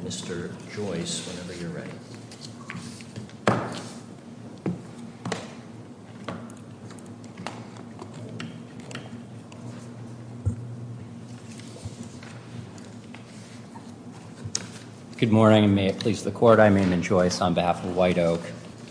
Mr. Joyce, whenever you're ready. Good morning. May it please the court. I'm Raymond Jones. I'm the White Oak.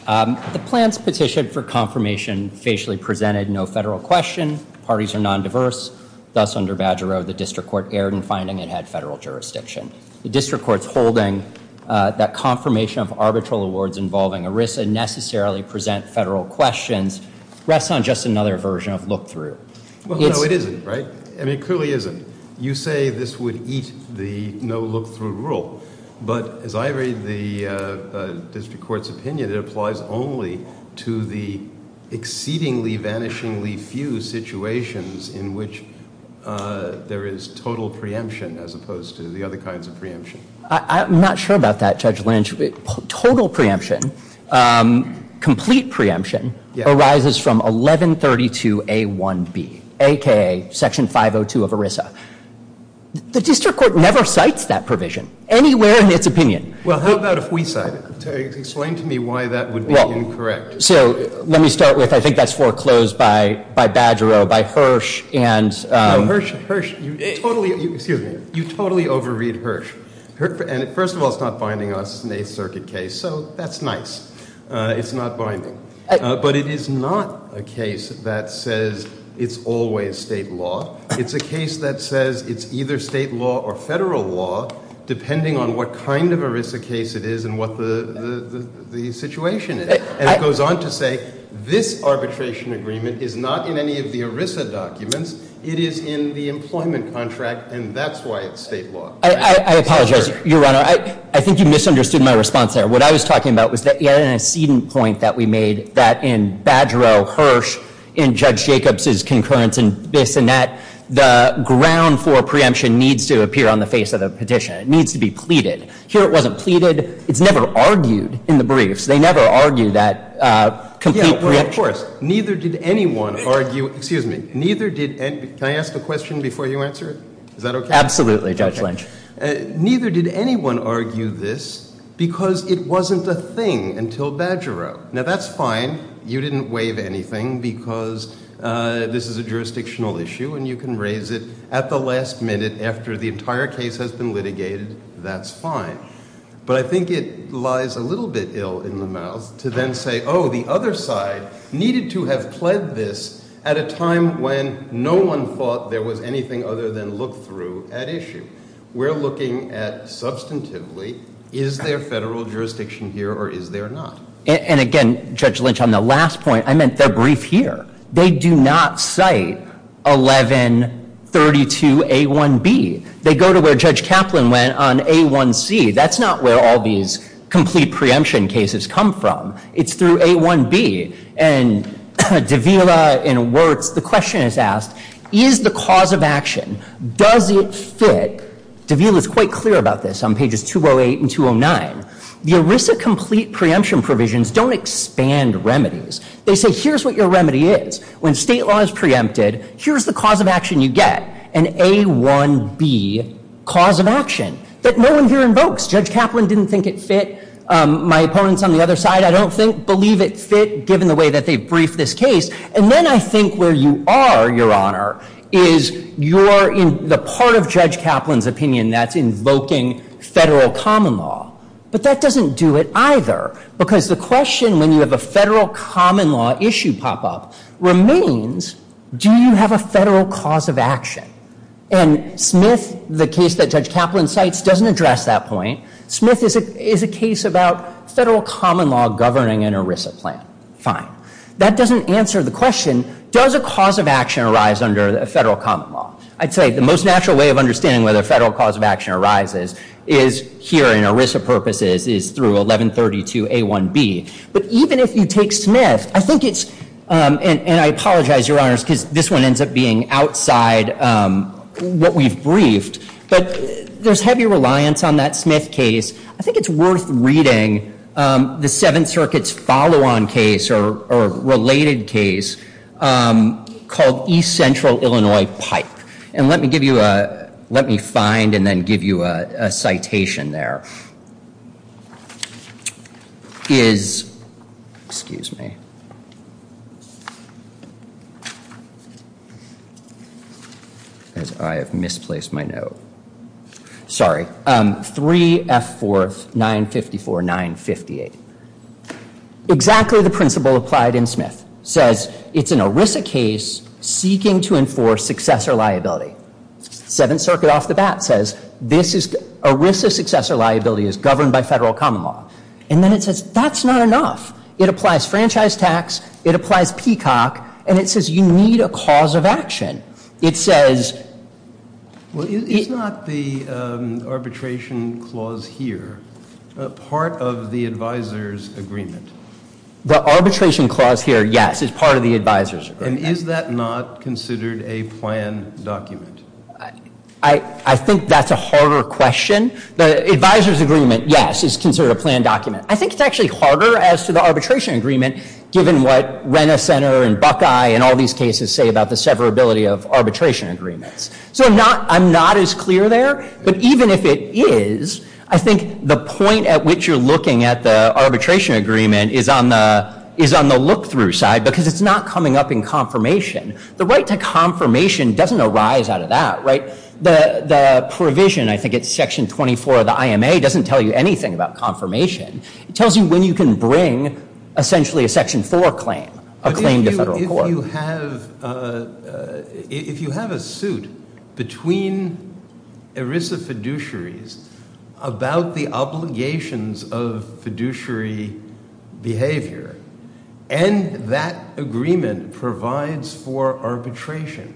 The plan's petition for confirmation facially presented no federal question. Parties are non-diverse. Thus, under Badger Road, the District Court erred in finding it had federal jurisdiction. The District Court's holding that confirmation of arbitral awards involving ERISA necessarily present federal questions rests on just another version of look-through. Well, no, it isn't, right? I mean, it clearly isn't. You say this would eat the no look-through rule. But as I read the District Court's opinion, it applies only to the exceedingly vanishingly few situations in which there is total preemption as opposed to the other kinds of preemption. I'm not sure about that, Judge Lynch. Total preemption, complete preemption, arises from 1132A1B, a.k.a. Section 502 of ERISA. The District Court never cites that provision anywhere in its opinion. Well, how about if we cite it? Explain to me why that would be incorrect. So, let me start with, I think that's foreclosed by Badger Road, by Hirsch. No, Hirsch, you totally over-read Hirsch. And first of all, it's not binding us in a circuit case. So, that's nice. It's not binding. But it is not a case that says it's always state law. It's a case that says it's either state law or federal law, depending on what kind of ERISA case it is and what the situation is. And it goes on to say this arbitration agreement is not in any of the ERISA documents. It is in the employment contract, and that's why it's state law. I apologize, Your Honor. I think you misunderstood my response there. What I was talking about was that you had an accedent point that we made that in Badger Road, Hirsch, in Judge Jacobs' concurrence in Bissonette, the ground for preemption needs to appear on the face of the petition. It needs to be pleaded. Here it wasn't pleaded. It's never argued in the briefs. They never argue that it's a complete preemption. Yeah, well, of course. Neither did anyone argue, excuse me, can I ask a question before you answer it? Is that okay? Absolutely, Judge Lynch. Neither did anyone argue this because it wasn't a thing until Badger Road. Now, that's fine. You didn't waive anything because this is a jurisdictional issue and you can raise it at the last minute after the entire case has been litigated. That's fine. But I think it lies a little bit ill in the mouth to then say, oh, the other side needed to have pledged this at a time when no one thought there was anything other than look-through at issue. We're looking at substantively is there federal jurisdiction here or is there not? And again, Judge Lynch, on the last point, I meant their brief here. They do not cite 1132A1B. They go to where Judge Kaplan went on A1C. That's not where all these complete preemption cases come from. It's through A1B. And Davila and Wurtz, the question is asked, is the cause of action, does it fit? Davila is quite clear about this on pages 208 and 209. The ERISA complete preemption provisions don't expand remedies. They say here's what your remedy is. When state law is preempted, here's the cause of action you get, an A1B cause of action that no one here invokes. Judge Kaplan didn't think it fit. My opponents on the other side I don't believe it fit given the way that they briefed this case. And then I think where you are, Your Honor, is you're in the part of Judge Kaplan's opinion that's invoking federal common law. But that doesn't do it either. Because the question when you have a federal common law issue pop up remains, do you have a federal cause of action? And Smith, the case that Judge Kaplan cites, doesn't address that point. Smith is a case about federal common law governing an ERISA plan. Fine. That doesn't answer the question, does a cause of action arise under a federal common law? I'd say the most natural way of understanding whether a federal cause of action arises is here in ERISA purposes is through 1132 A1B. But even if you take Smith, I think it's and I apologize, Your Honors, because this one ends up being outside what we've briefed But there's heavy reliance on that Smith case. I think it's worth reading the Seventh Circuit's follow-on case or related case called East Central Illinois Pipe. And let me give you a, let me find and then give you a citation there. Is, excuse me. As I have misplaced my note. Sorry. 3F4 954 958. Exactly the principle applied in Smith. Says it's an ERISA case seeking to enforce successor liability. Seventh Circuit off the bat says ERISA successor liability is governed by federal common law. And then it says that's not enough. It applies franchise tax. It applies Peacock. And it says you need a cause of action. It says It's not the arbitration clause here. Part of the advisors agreement. The arbitration clause here, yes, is part of the advisors agreement. And is that not considered a plan document? I think that's a harder question. The advisors agreement, yes, is considered a plan document. I think it's actually harder as to the arbitration agreement, given what Rena Center and Buckeye and all these cases say about the severability of arbitration agreements. So I'm not as clear there. But even if it is, I think the point at which you're looking at the arbitration agreement is on the look through side. Because it's not coming up in confirmation. The right to confirmation doesn't arise out of that. The provision, I think it's section 24 of the IMA, doesn't tell you anything about confirmation. It tells you when you can bring essentially a section 4 claim. A claim to federal court. If you have a suit between ERISA fiduciaries about the obligations of fiduciary behavior, and that agreement provides for arbitration,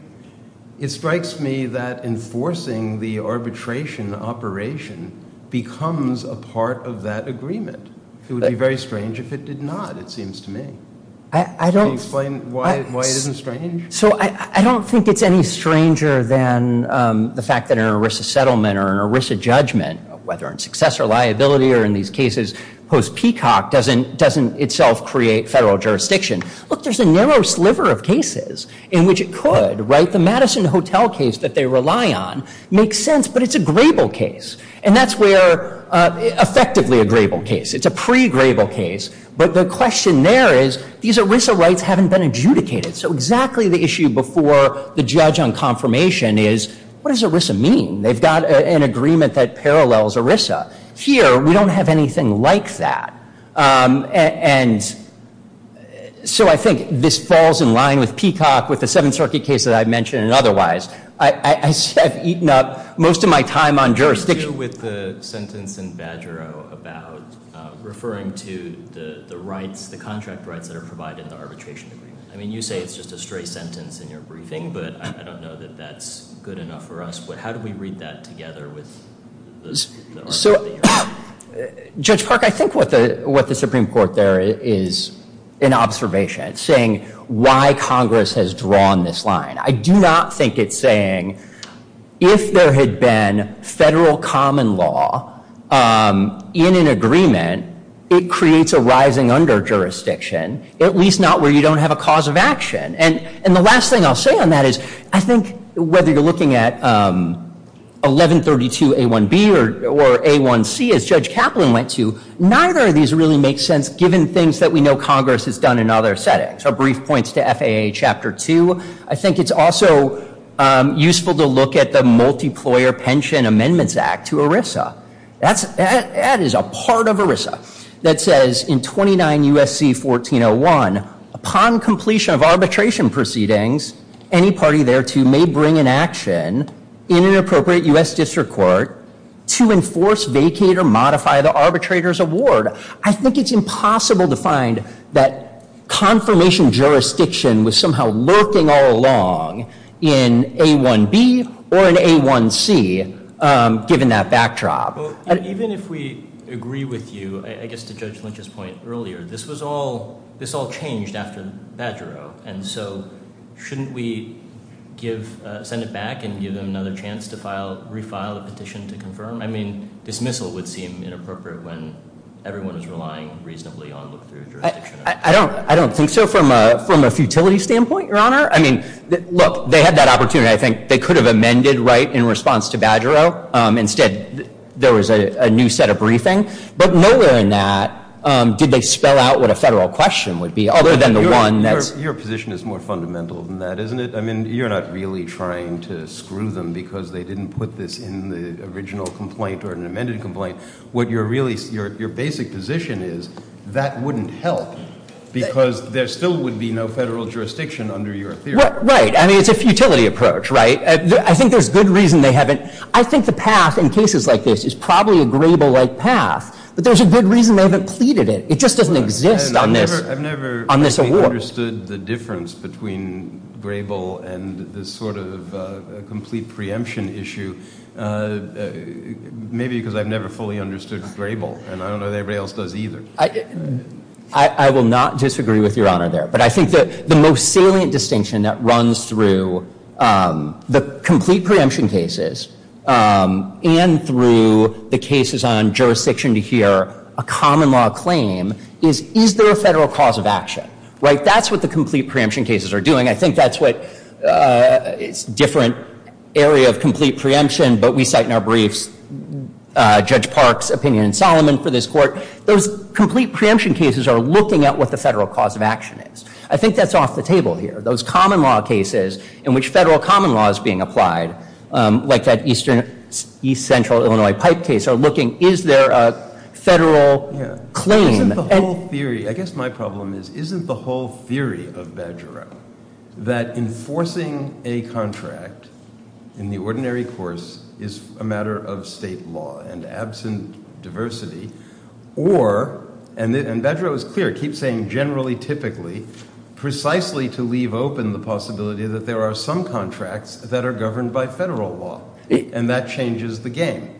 it strikes me that enforcing the arbitration operation becomes a part of that agreement. It would be very strange if it did not, it seems to me. Can you explain why it isn't strange? I don't think it's any stranger than the fact that an ERISA settlement or an ERISA judgment, whether in success or liability or in these cases post-Peacock, doesn't itself create federal jurisdiction. Look, there's a narrow sliver of cases in which it could. The Madison Hotel case that they rely on makes sense, but it's a grable case. And that's where, effectively a grable case. It's a pre-grable case. But the question there is, these ERISA rights haven't been adjudicated. So exactly the issue before the judge on confirmation is, what does ERISA mean? They've got an agreement that parallels ERISA. Here, we don't have anything like that. And so I think this falls in line with Peacock, with the Seventh Circuit case that I mentioned, and otherwise. I've eaten up most of my time on jurisdiction. What do you do with the sentence in Badgero about referring to the rights, the contract rights that are provided in the arbitration agreement? I mean, you say it's just a stray sentence in your briefing, but I don't know that that's good enough for us. How do we read that together? Judge Park, I think what the Supreme Court there is an observation. It's saying why Congress has drawn this line. I do not think it's saying, if there had been federal common law in an agreement, it creates a rising under-jurisdiction, at least not where you don't have a cause of action. And the last thing I'll say on that is, I think whether you're looking at 1132A1B or A1C, as Judge Kaplan went to, neither of these really make sense, given things that we know Congress has done in other settings. Our brief points to FAA Chapter 2. I think it's also useful to look at the Multiplier Pension Amendments Act to ERISA. That is a part of ERISA that says in 29 U.S.C. 1401, upon completion of arbitration proceedings, any party thereto may bring in action in an appropriate U.S. District Court to enforce, vacate, or modify the arbitrator's award. I think it's impossible to find that confirmation jurisdiction was somehow lurking all along in A1B or in A1C, given that backdrop. Even if we agree with you, I guess to Judge Lynch's point earlier, this was all, this all changed after Badgero, and so shouldn't we send it back and give them another chance to refile the petition to confirm? I mean, dismissal would seem inappropriate when everyone is relying reasonably on look-through jurisdiction. I don't think so from a futility standpoint, Your Honor. Look, they had that opportunity. I think they could have amended right in response to Badgero. Instead, there was a new set of briefing. But nowhere in that did they spell out what a federal question would be. Your position is more fundamental than that, isn't it? I mean, you're not really trying to screw them because they didn't put this in the original complaint or an amended complaint. What you're really, your basic position is that wouldn't help because there still would be no federal jurisdiction under your theory. Right. I mean, it's a futility approach, right? I think there's good reason they haven't, I think the path in cases like this is probably a Grable-like path, but there's a good reason they haven't pleaded it. It just doesn't exist on this, on this award. I haven't understood the difference between Grable and this sort of complete preemption issue. Maybe because I've never fully understood Grable, and I don't know that everybody else does either. I will not disagree with Your Honor there, but I think that the most salient distinction that runs through the complete preemption cases and through the cases on jurisdiction to hear a common law claim is, is there a federal cause of action, right? That's what the complete preemption cases are doing. I think that's what, it's a different area of complete preemption, but we cite in our briefs Judge Park's opinion and Solomon for this court. Those complete preemption cases are looking at what the federal cause of action is. I think that's off the table here. Those common law cases in which federal common law is being applied, like that east central Illinois pipe case, are looking, is there a federal claim? Isn't the whole theory, I guess my problem is, isn't the whole theory of Badgerow that enforcing a contract in the ordinary course is a matter of state law and absent diversity, or, and Badgerow is clear, keeps saying generally, typically, precisely to leave open the possibility that there are some contracts that are governed by federal law, and that changes the game.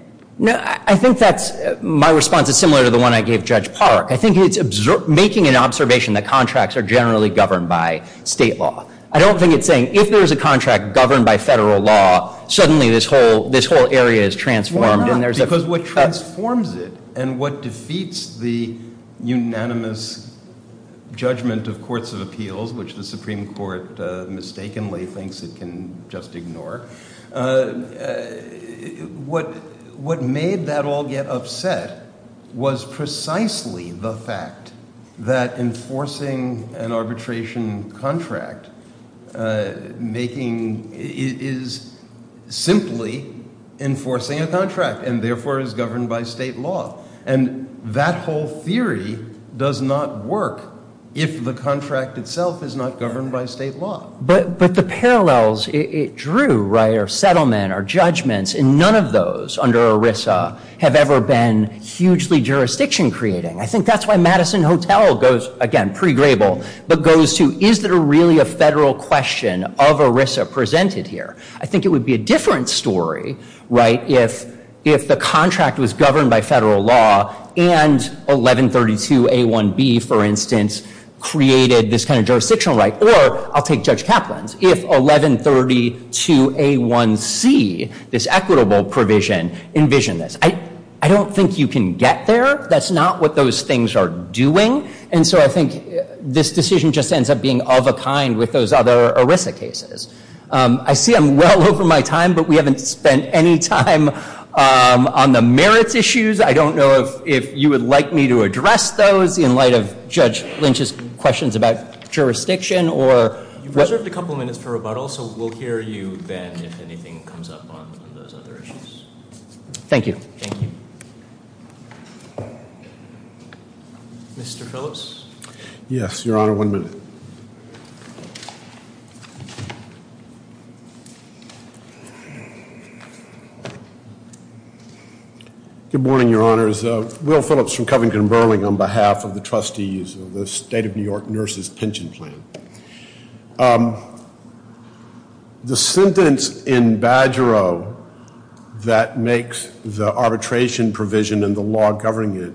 I think that's, my response is similar to the one I gave Judge Park. I think it's making an observation that contracts are generally governed by state law. I don't think it's saying if there's a contract governed by federal law, suddenly this whole area is transformed. Why not? Because what transforms it and what defeats the unanimous judgment of courts of appeals, which the Supreme Court mistakenly thinks it can just ignore, what made that all get upset was precisely the fact that enforcing an contract, and therefore is governed by state law. And that whole theory does not work if the contract itself is not governed by state law. But the parallels it drew, right, or settlement or judgments, and none of those under ERISA have ever been hugely jurisdiction creating. I think that's why Madison Hotel goes, again, pre-Grable, but goes to, is there really a federal question of ERISA presented here? I think it would be a different story, right, if the contract was governed by federal law, and 1132A1B, for instance, created this kind of jurisdictional right. Or, I'll take Judge Kaplan's, if 1132A1C, this equitable provision, envisioned this. I don't think you can get there. That's not what those things are doing. And so I think this decision just ends up being of a kind with those other ERISA cases. I see I'm well over my time, but we haven't spent any time on the merits issues. I don't know if you would like me to address those in light of Judge Lynch's questions about jurisdiction. You've reserved a couple minutes for rebuttal, so we'll hear you and if anything comes up on those other issues. Thank you. Mr. Phillips? Yes, Your Honor, one minute. Good morning, Your Honors. Will Phillips from Covington & Burling on behalf of the Trustees of the State of New York and the state nurses pension plan. The sentence in Badgero that makes the arbitration provision and the law governing it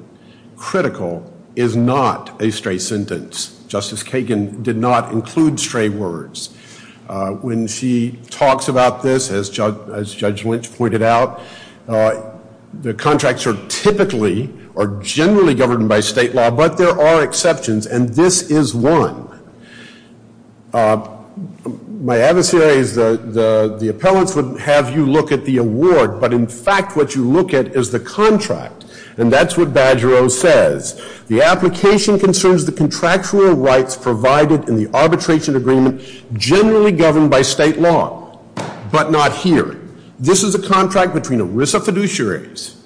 critical is not a stray sentence. Justice Kagan did not include stray words. When she talks about this, as Judge Lynch pointed out, the contracts are typically or generally governed by state law, but there are exceptions and this is one. My adversary is the appellants would have you look at the award, but in fact what you look at is the contract. And that's what Badgero says. The application concerns the contractual rights provided in the arbitration agreement generally governed by state law, but not here. This is a contract between ERISA fiduciaries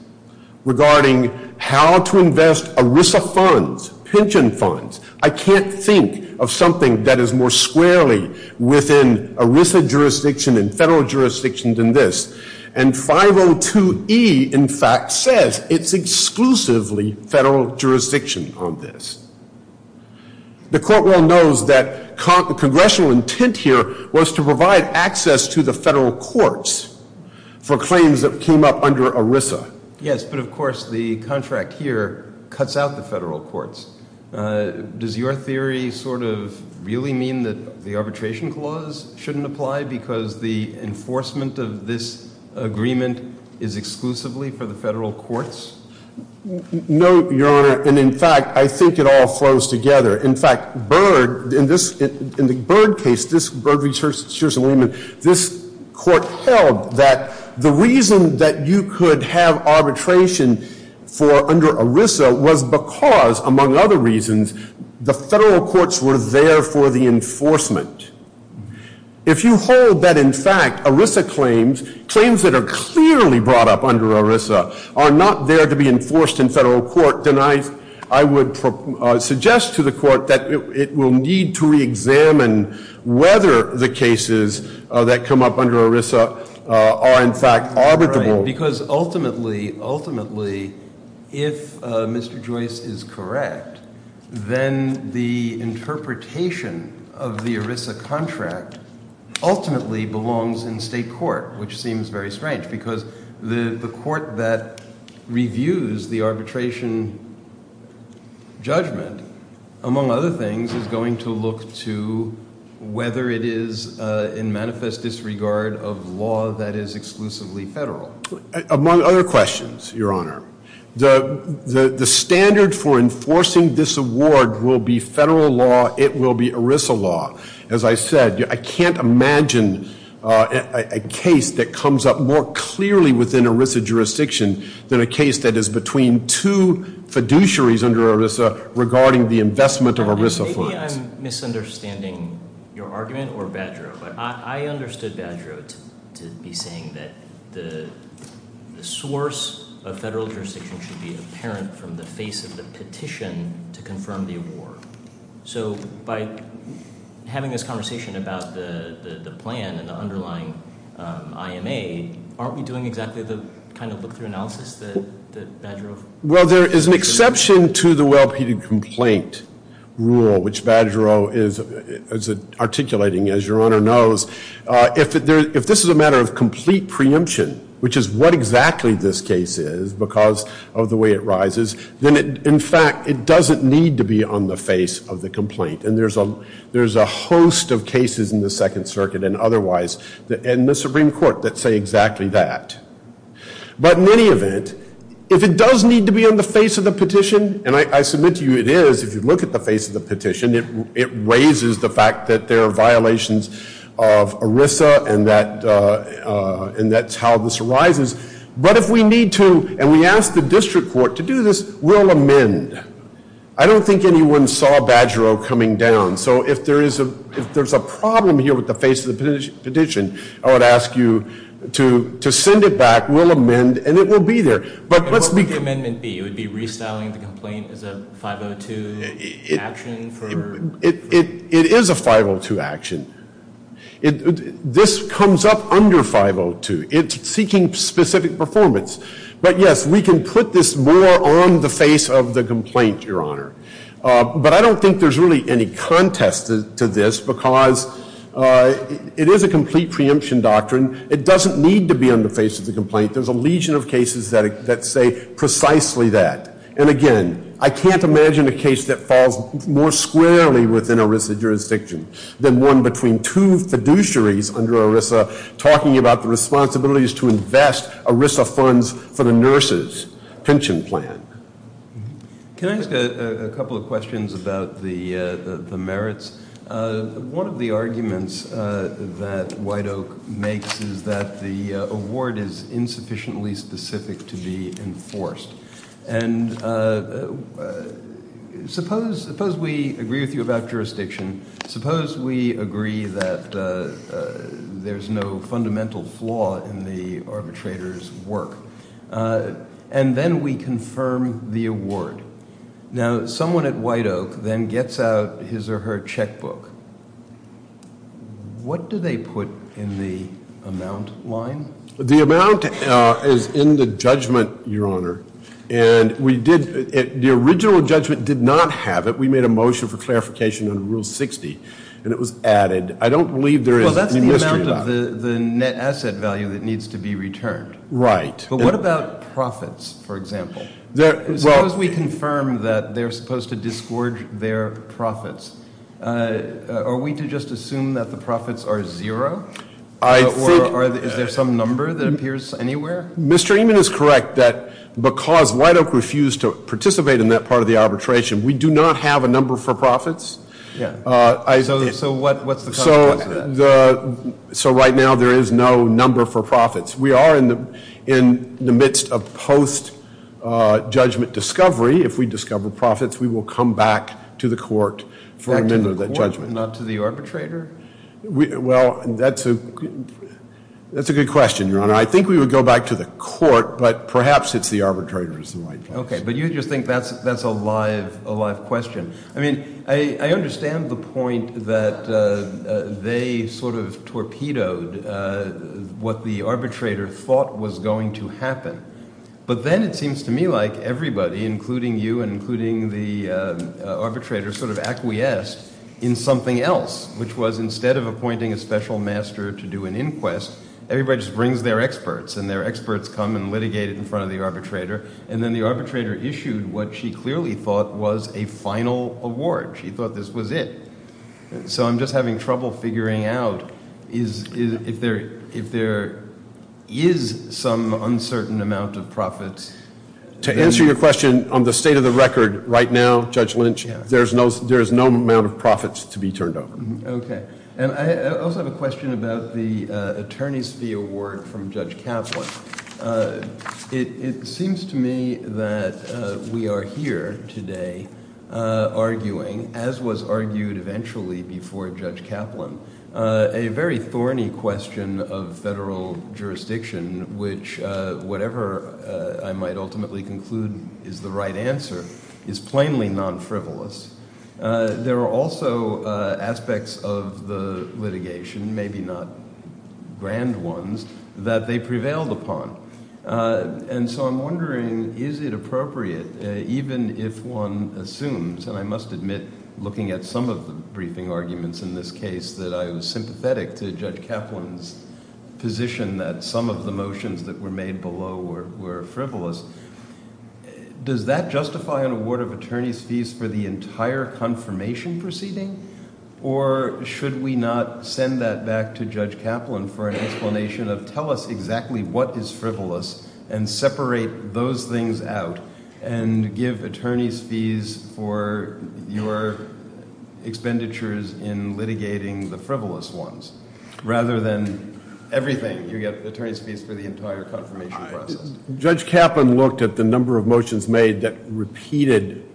regarding how to invest ERISA funds, pension funds. I can't think of something that is more squarely within ERISA jurisdiction and federal jurisdiction than this. And 502E in fact says it's exclusively federal jurisdiction on this. The court well knows that congressional intent here was to provide access to the federal courts for claims that came up under ERISA. Yes, but of course the contract here cuts out the federal courts. Does your theory sort of really mean that the arbitration clause shouldn't apply because the enforcement of this agreement is exclusively for the federal courts? No, Your Honor, and in fact I think it all flows together. In fact, Bird, in the Bird case, Bird v. Scherson-Williamson, this court held that the reason that you could have arbitration for under ERISA was because, among other reasons, the federal claims, claims that are clearly brought up under ERISA, are not there to be enforced in federal court. And I would suggest to the court that it will need to reexamine whether the cases that come up under ERISA are in fact arbitrable. Right, because ultimately, ultimately, if Mr. Joyce is correct, then the strange, because the court that reviews the arbitration judgment, among other things, is going to look to whether it is in manifest disregard of law that is exclusively federal. Among other questions, Your Honor, the standard for enforcing this award will be federal law. It will be ERISA law. As I said, I can't imagine a case that comes up more clearly within ERISA jurisdiction than a case that is between two fiduciaries under ERISA regarding the investment of ERISA funds. Maybe I'm misunderstanding your argument or Badgerow, but I understood Badgerow to be saying that the source of federal jurisdiction should be apparent from the face of the petition to confirm the award. So by having this conversation about the plan and the underlying IMA, aren't we doing exactly the kind of look-through analysis that Badgerow... Well, there is an exception to the well-peted complaint rule, which Badgerow is articulating, as Your Honor knows. If this is a matter of fact, it doesn't need to be on the face of the complaint. And there's a host of cases in the Second Circuit and otherwise in the Supreme Court that say exactly that. But in any event, if it does need to be on the face of the petition, and I submit to you it is, if you look at the face of the petition, it raises the fact that there are violations of ERISA and that's how this arises. But if we need to, and we ask the district court to do this, we'll amend. I don't think anyone saw Badgerow coming down. So if there's a problem here with the face of the petition, I would ask you to send it back. We'll amend and it will be there. But what would the amendment be? It would be restyling the complaint as a 502 action? It is a 502 action. This comes up under 502. It's seeking specific performance. But yes, we can put this more on the face of the complaint, Your Honor. But I don't think there's really any contest to this because it is a complete preemption doctrine. It doesn't need to be on the face of the complaint. There's a legion of cases that say precisely that. And again, I can't imagine a case that falls more squarely within ERISA jurisdiction than one between two fiduciaries under ERISA talking about the responsibilities to invest ERISA funds for the nurses' pension plan. Can I ask a couple of questions about the merits? One of the arguments that White Oak makes is that the award is insufficiently specific to be enforced. And suppose we agree with you about jurisdiction. Suppose we agree that there's no fundamental flaw in the arbitrator's work. And then we confirm the award. Now, someone at White Oak then gets out his or her checkbook. What do they put in the amount line? The amount is in the judgment, Your Honor. And the original judgment did not have it. We made a motion for clarification under Rule 60. And it was added. I don't believe there is any mystery about it. Well, that's the amount of the net asset value that needs to be returned. Right. But what about profits, for example? Suppose we confirm that they're supposed to disgorge their profits. Are we to just assume that the profits are zero? Or is there some number that appears anywhere? Mr. Ehman is correct that because White Oak refused to participate in that part of the arbitration, we do not have a number for profits. So what's the consequence of that? So right now there is no number for profits. We are in the midst of post-judgment discovery. If we discover profits, we will come back to the court for amendment of that judgment. Back to the court, not to the arbitrator? Well, that's a good question, Your Honor. I think we would go back to the court, but perhaps it's the arbitrator's fault. Okay, but you just think that's a live question. I mean, I understand the point that they sort of torpedoed what the arbitrator thought was going to happen. But then it seems to me like everybody, including you and including the arbitrator, sort of acquiesced in something else, which was instead of appointing a special master to do an inquest, everybody just brings their experts. And their experts come and litigate it in front of the arbitrator. And then the arbitrator issued what she clearly thought was a final award. She thought this was it. So I'm just having trouble figuring out if there is some uncertain amount of profits. To answer your question, on the state of the record right now, Judge Lynch, there is no amount of profits to be turned over. I also have a question about the attorney's fee award from Judge Kaplan. It seems to me that we are here today arguing, as was argued eventually before Judge Kaplan, a very thorny question of federal jurisdiction, is plainly non-frivolous. There are also aspects of the litigation, maybe not grand ones, that they prevailed upon. And so I'm wondering, is it appropriate, even if one assumes, and I must admit, looking at some of the briefing arguments in this case, that I was sympathetic to Judge Kaplan's position that some of the motions that were made below were frivolous, does that justify an award of attorney's fees for the entire confirmation proceeding? Or should we not send that back to Judge Kaplan for an explanation of, tell us exactly what is frivolous and separate those things out and give attorney's fees for your entire confirmation process? Judge Kaplan looked at the number of motions made that repeated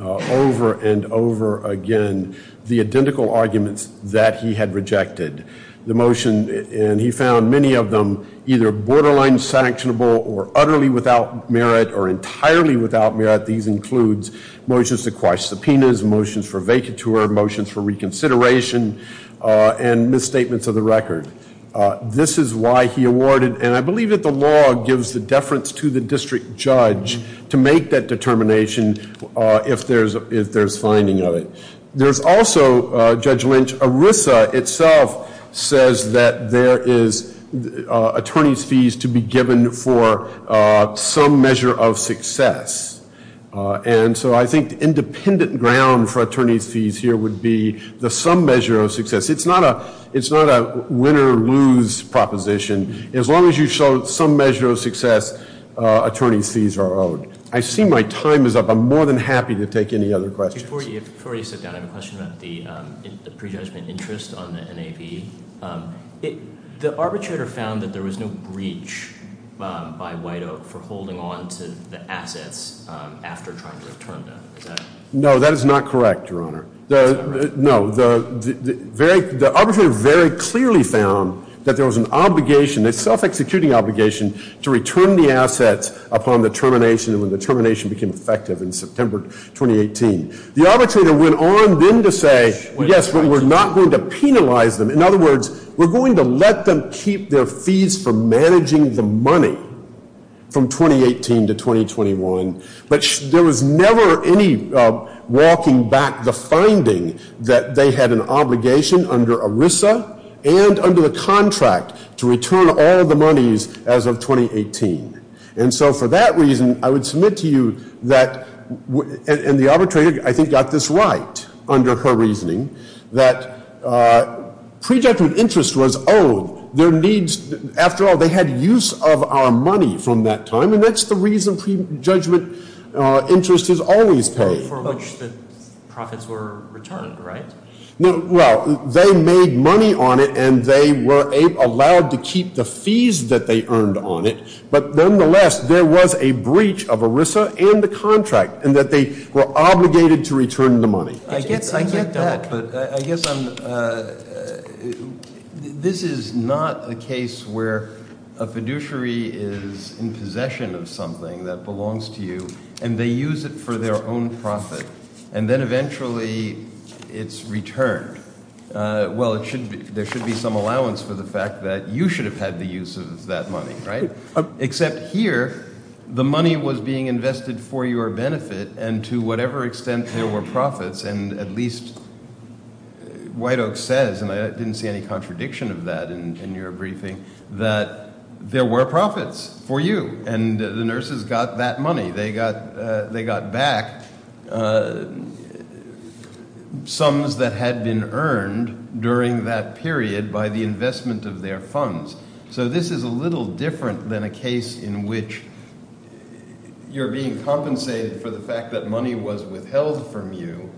over and over again the identical arguments that he had rejected. The motion, and he found many of them either borderline sanctionable or utterly without merit or entirely without merit. These include motions to quash subpoenas, motions for vacatur, motions for reconsideration and misstatements of the record. This is why he awarded, and I believe that the law gives the deference to the district judge to make that determination if there's finding of it. There's also, Judge Lynch, ERISA itself says that there is attorney's fees to be given for some measure of success. And so I think independent ground for attorney's fees here would be the some measure of success. It's not a win or lose proposition. As long as you show some measure of success, attorney's fees are owed. I see my time is up. I'm more than happy to take any other questions. Before you sit down, I have a question about the prejudgment interest on the NAV. The arbitrator found that there was no breach by White Oak for holding on to the assets after trying to return them. No, that is not correct, Your Honor. The arbitrator very clearly found that there was an obligation, a self-executing obligation to return the assets upon the termination and when the termination became effective in September 2018. The arbitrator went on then to say, yes, but we're not going to penalize them. In other words, we're going to let them keep their fees for managing the money from 2018 to 2021. But there was never any walking back the finding that they had an obligation under ERISA and under the contract to return all the monies as of 2018. And so for that reason, I would submit to you that, and the arbitrator, I think, got this right under her reasoning, that prejudgment interest was owed. Their needs, after all, they had use of our money from that time. And that's the reason prejudgment interest is always paid. For which the profits were returned, right? Well, they made money on it and they were allowed to keep the fees that they earned on it. But nonetheless, there was a breach of ERISA and the contract and that they were obligated to return the money. I get that, but I guess I'm this is not a case where a fiduciary is in possession of something that is returned. Well, there should be some allowance for the fact that you should have had the use of that money, right? Except here, the money was being invested for your benefit and to whatever extent there were profits. And at least White Oak says, and I didn't see any contradiction of that in your briefing, that there were profits for you. And the nurses got that money. They got back sums that had been earned during that period by the investment of their funds. So this is a little different than a case in which you're being compensated for the fact that money was withheld from you,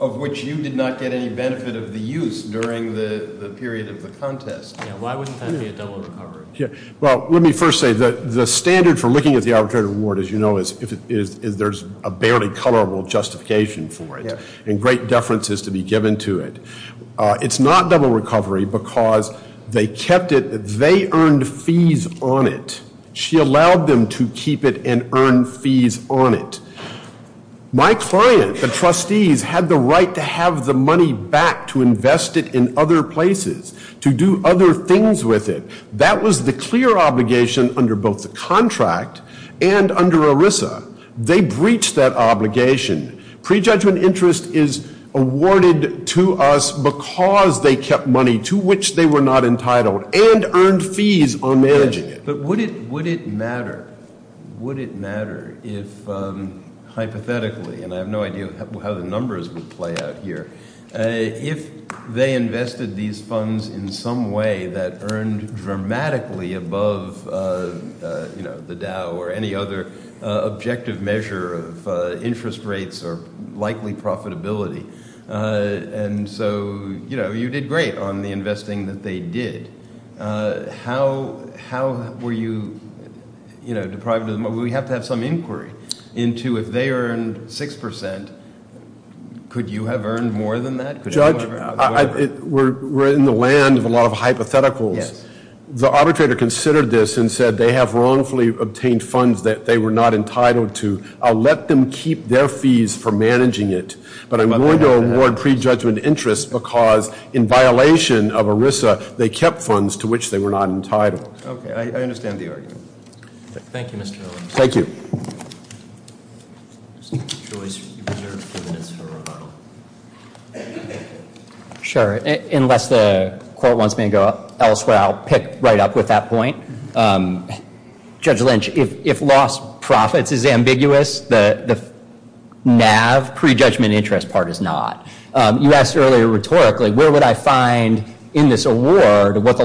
of which you did not get any benefit of the use during the Looking at the arbitrary reward, as you know, there's a barely colorable justification for it. And great deference is to be given to it. It's not double recovery because they kept it, they earned fees on it. She allowed them to keep it and earn fees on it. My client, the trustees, had the right to have the money back to invest it in other And under ERISA, they breached that obligation. Prejudgment interest is awarded to us because they kept money to which they were not entitled and earned fees on managing it. But would it matter, would it matter if hypothetically, and I have no idea how the numbers would play out here, if they invested these or any other objective measure of interest rates or likely profitability. And so you did great on the investing that they did. How were you deprived of the money? We have to have some inquiry into if they earned 6%, could you have earned more than that? Judge, we're in the land of a lot of hypotheticals. The arbitrator considered this and said they have wrongfully obtained funds that they were not entitled to. I'll let them keep their fees for managing it, but I'm going to award prejudgment interest because in violation of ERISA, they kept funds to which they were not entitled. Okay, I understand the argument. Thank you, Mr. Miller. Thank you. Sure. Unless the court wants me to go elsewhere, I'll pick right up with that point. Judge Lynch, if lost profits is ambiguous, the NAV, prejudgment interest part is not. You asked earlier rhetorically, where would I find in this award what the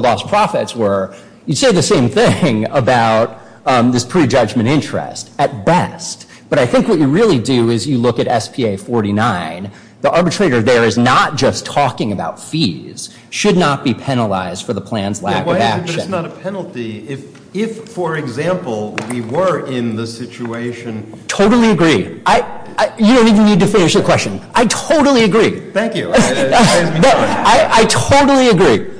I think what you really do is you look at SPA 49, the arbitrator there is not just talking about fees, should not be penalized for the plan's lack of action. Totally agree. You don't even need to finish the question. I totally agree. Thank you. I totally agree.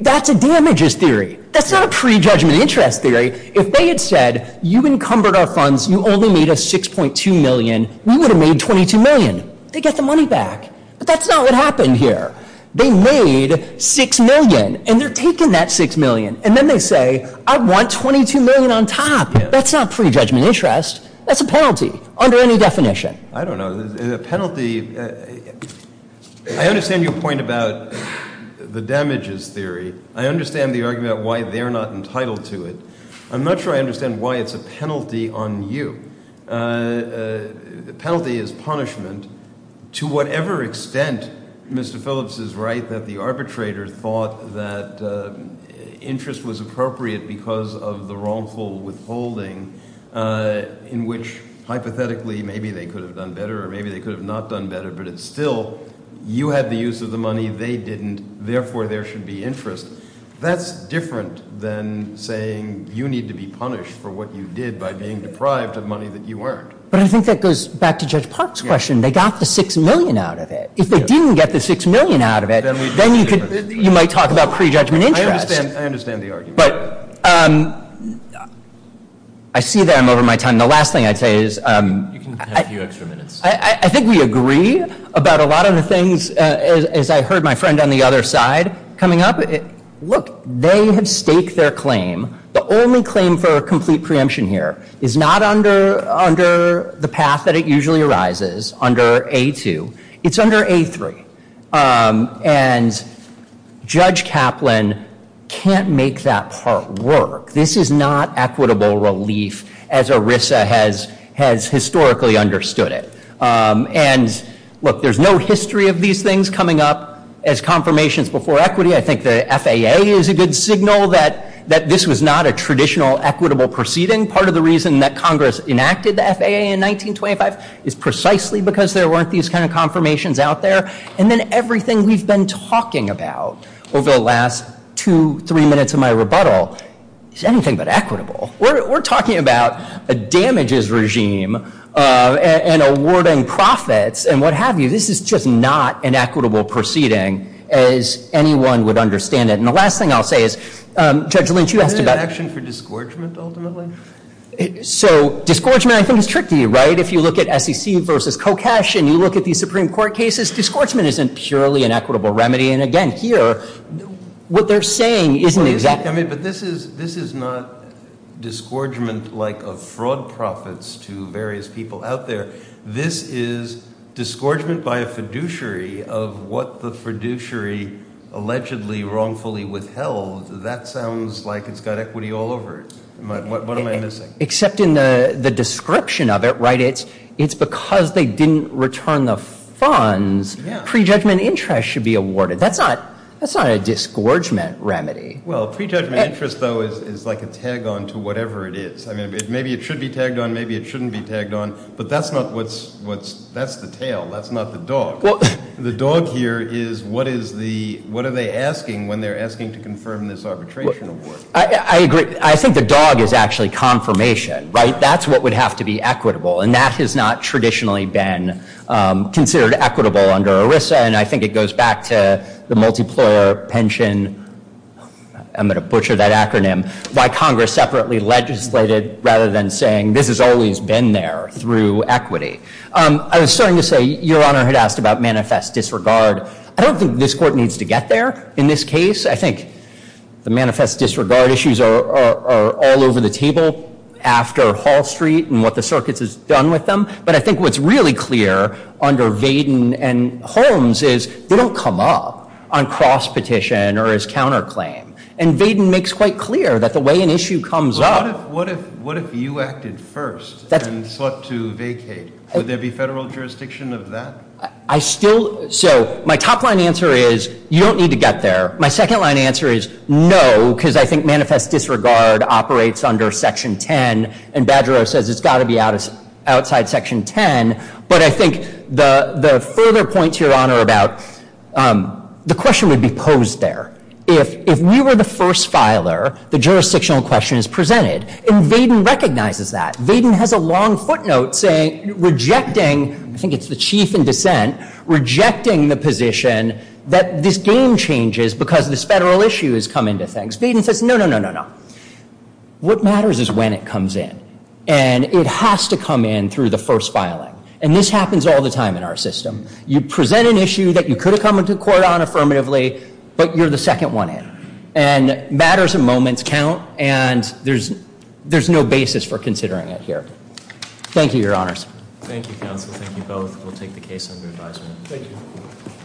That's a damages theory. That's not a prejudgment interest theory. If they had said you encumbered our funds, you only made a 6.2 million, we would have made 22 million. They get the money back, but that's not what happened here. They made 6 million and they're taking that 6 million and then they say I want 22 million on top. That's not prejudgment interest. That's a penalty under any definition. I don't know the penalty. I understand your point about the damages theory. I understand the argument why they're not entitled to it. I'm not sure I understand why it's a penalty on you. Penalty is punishment. To whatever extent Mr. Phillips is right that the arbitrator thought that interest was appropriate because of the wrongful withholding in which hypothetically maybe they could have done better or maybe they could have not done better, but it's still you had the use of the money they didn't, therefore there should be interest. That's different than saying you need to be punished for what you did by being deprived of money that you weren't. But I think that goes back to Judge Park's question. They got the 6 million out of it. Then you might talk about prejudgment interest. I see that I'm over my time. The last thing I'd say is I think we agree about a lot of the things as I heard my friend on the other side coming up. Look, they have staked their claim. The only claim for a complete preemption here is not under the path that it usually arises, under A2. It's under A3. Judge Kaplan can't make that part work. This is not equitable relief as ERISA has historically understood it. There's no history of these things coming up as confirmations before equity. I think the FAA is a good signal that this was not a traditional equitable proceeding. Part of the reason that Congress enacted the FAA in 1925 is precisely because there weren't these kind of confirmations out there. And then everything we've been talking about over the last two, three minutes of my rebuttal is anything but equitable. We're talking about a damages regime and awarding profits and what have you. This is just not an equitable proceeding as anyone would understand it. And the last thing I'll say is, Judge Lynch, you asked about- Isn't it an action for disgorgement ultimately? So disgorgement I think is tricky, right? If you look at SEC versus Kocash and you look at these Supreme Court cases, disgorgement isn't purely an equitable remedy. And again, here, what they're saying isn't exactly- I mean, but this is not disgorgement like of fraud profits to various people out there. This is disgorgement by a fiduciary of what the fiduciary allegedly wrongfully withheld. That sounds like it's got equity all over it. What am I missing? Except in the description of it, right? It's because they didn't return the funds, pre-judgment interest should be awarded. That's not a disgorgement remedy. Well, pre-judgment interest though is like a tag on to whatever it is. I mean, maybe it should be tagged on, maybe it shouldn't be tagged on, but that's not what's- that's the tail. That's not the dog. The dog here is what is the- what are they asking when they're asking to confirm this arbitration award? I agree. I think the dog is actually confirmation, right? That's what would have to be equitable. And that has not traditionally been considered equitable under ERISA. And I think it goes back to the multiplier pension- I'm going to butcher that acronym- by Congress separately legislated rather than saying this has always been there through equity. I was starting to say, Your Honor had asked about manifest disregard. I don't think this Court needs to get there in this case. I think the manifest disregard issues are all over the table after Hall Street and what the circuits has done with them. But I think what's really clear under Vaden and Holmes is they don't come up on cross-petition or as counterclaim. And Vaden makes quite clear that the way an issue comes up- I still- so my top line answer is you don't need to get there. My second line answer is no, because I think manifest disregard operates under Section 10. And Badgerow says it's got to be outside Section 10. But I think the further point, Your Honor, about- the question would be posed there. If we were the first filer, the jurisdictional question is presented. And Vaden recognizes that. Vaden has a long footnote saying- rejecting- I think it's the chief in dissent- rejecting the position that this game changes because this federal issue has come into things. Vaden says no, no, no, no, no. What matters is when it comes in. And it has to come in through the first filing. And this happens all the time in our system. You present an issue that you could have come into court on affirmatively, but you're the second one in. And matters and moments count. And there's no basis for considering it here. Thank you, Your Honors. Thank you, counsel. Thank you both. We'll take the case under advisement.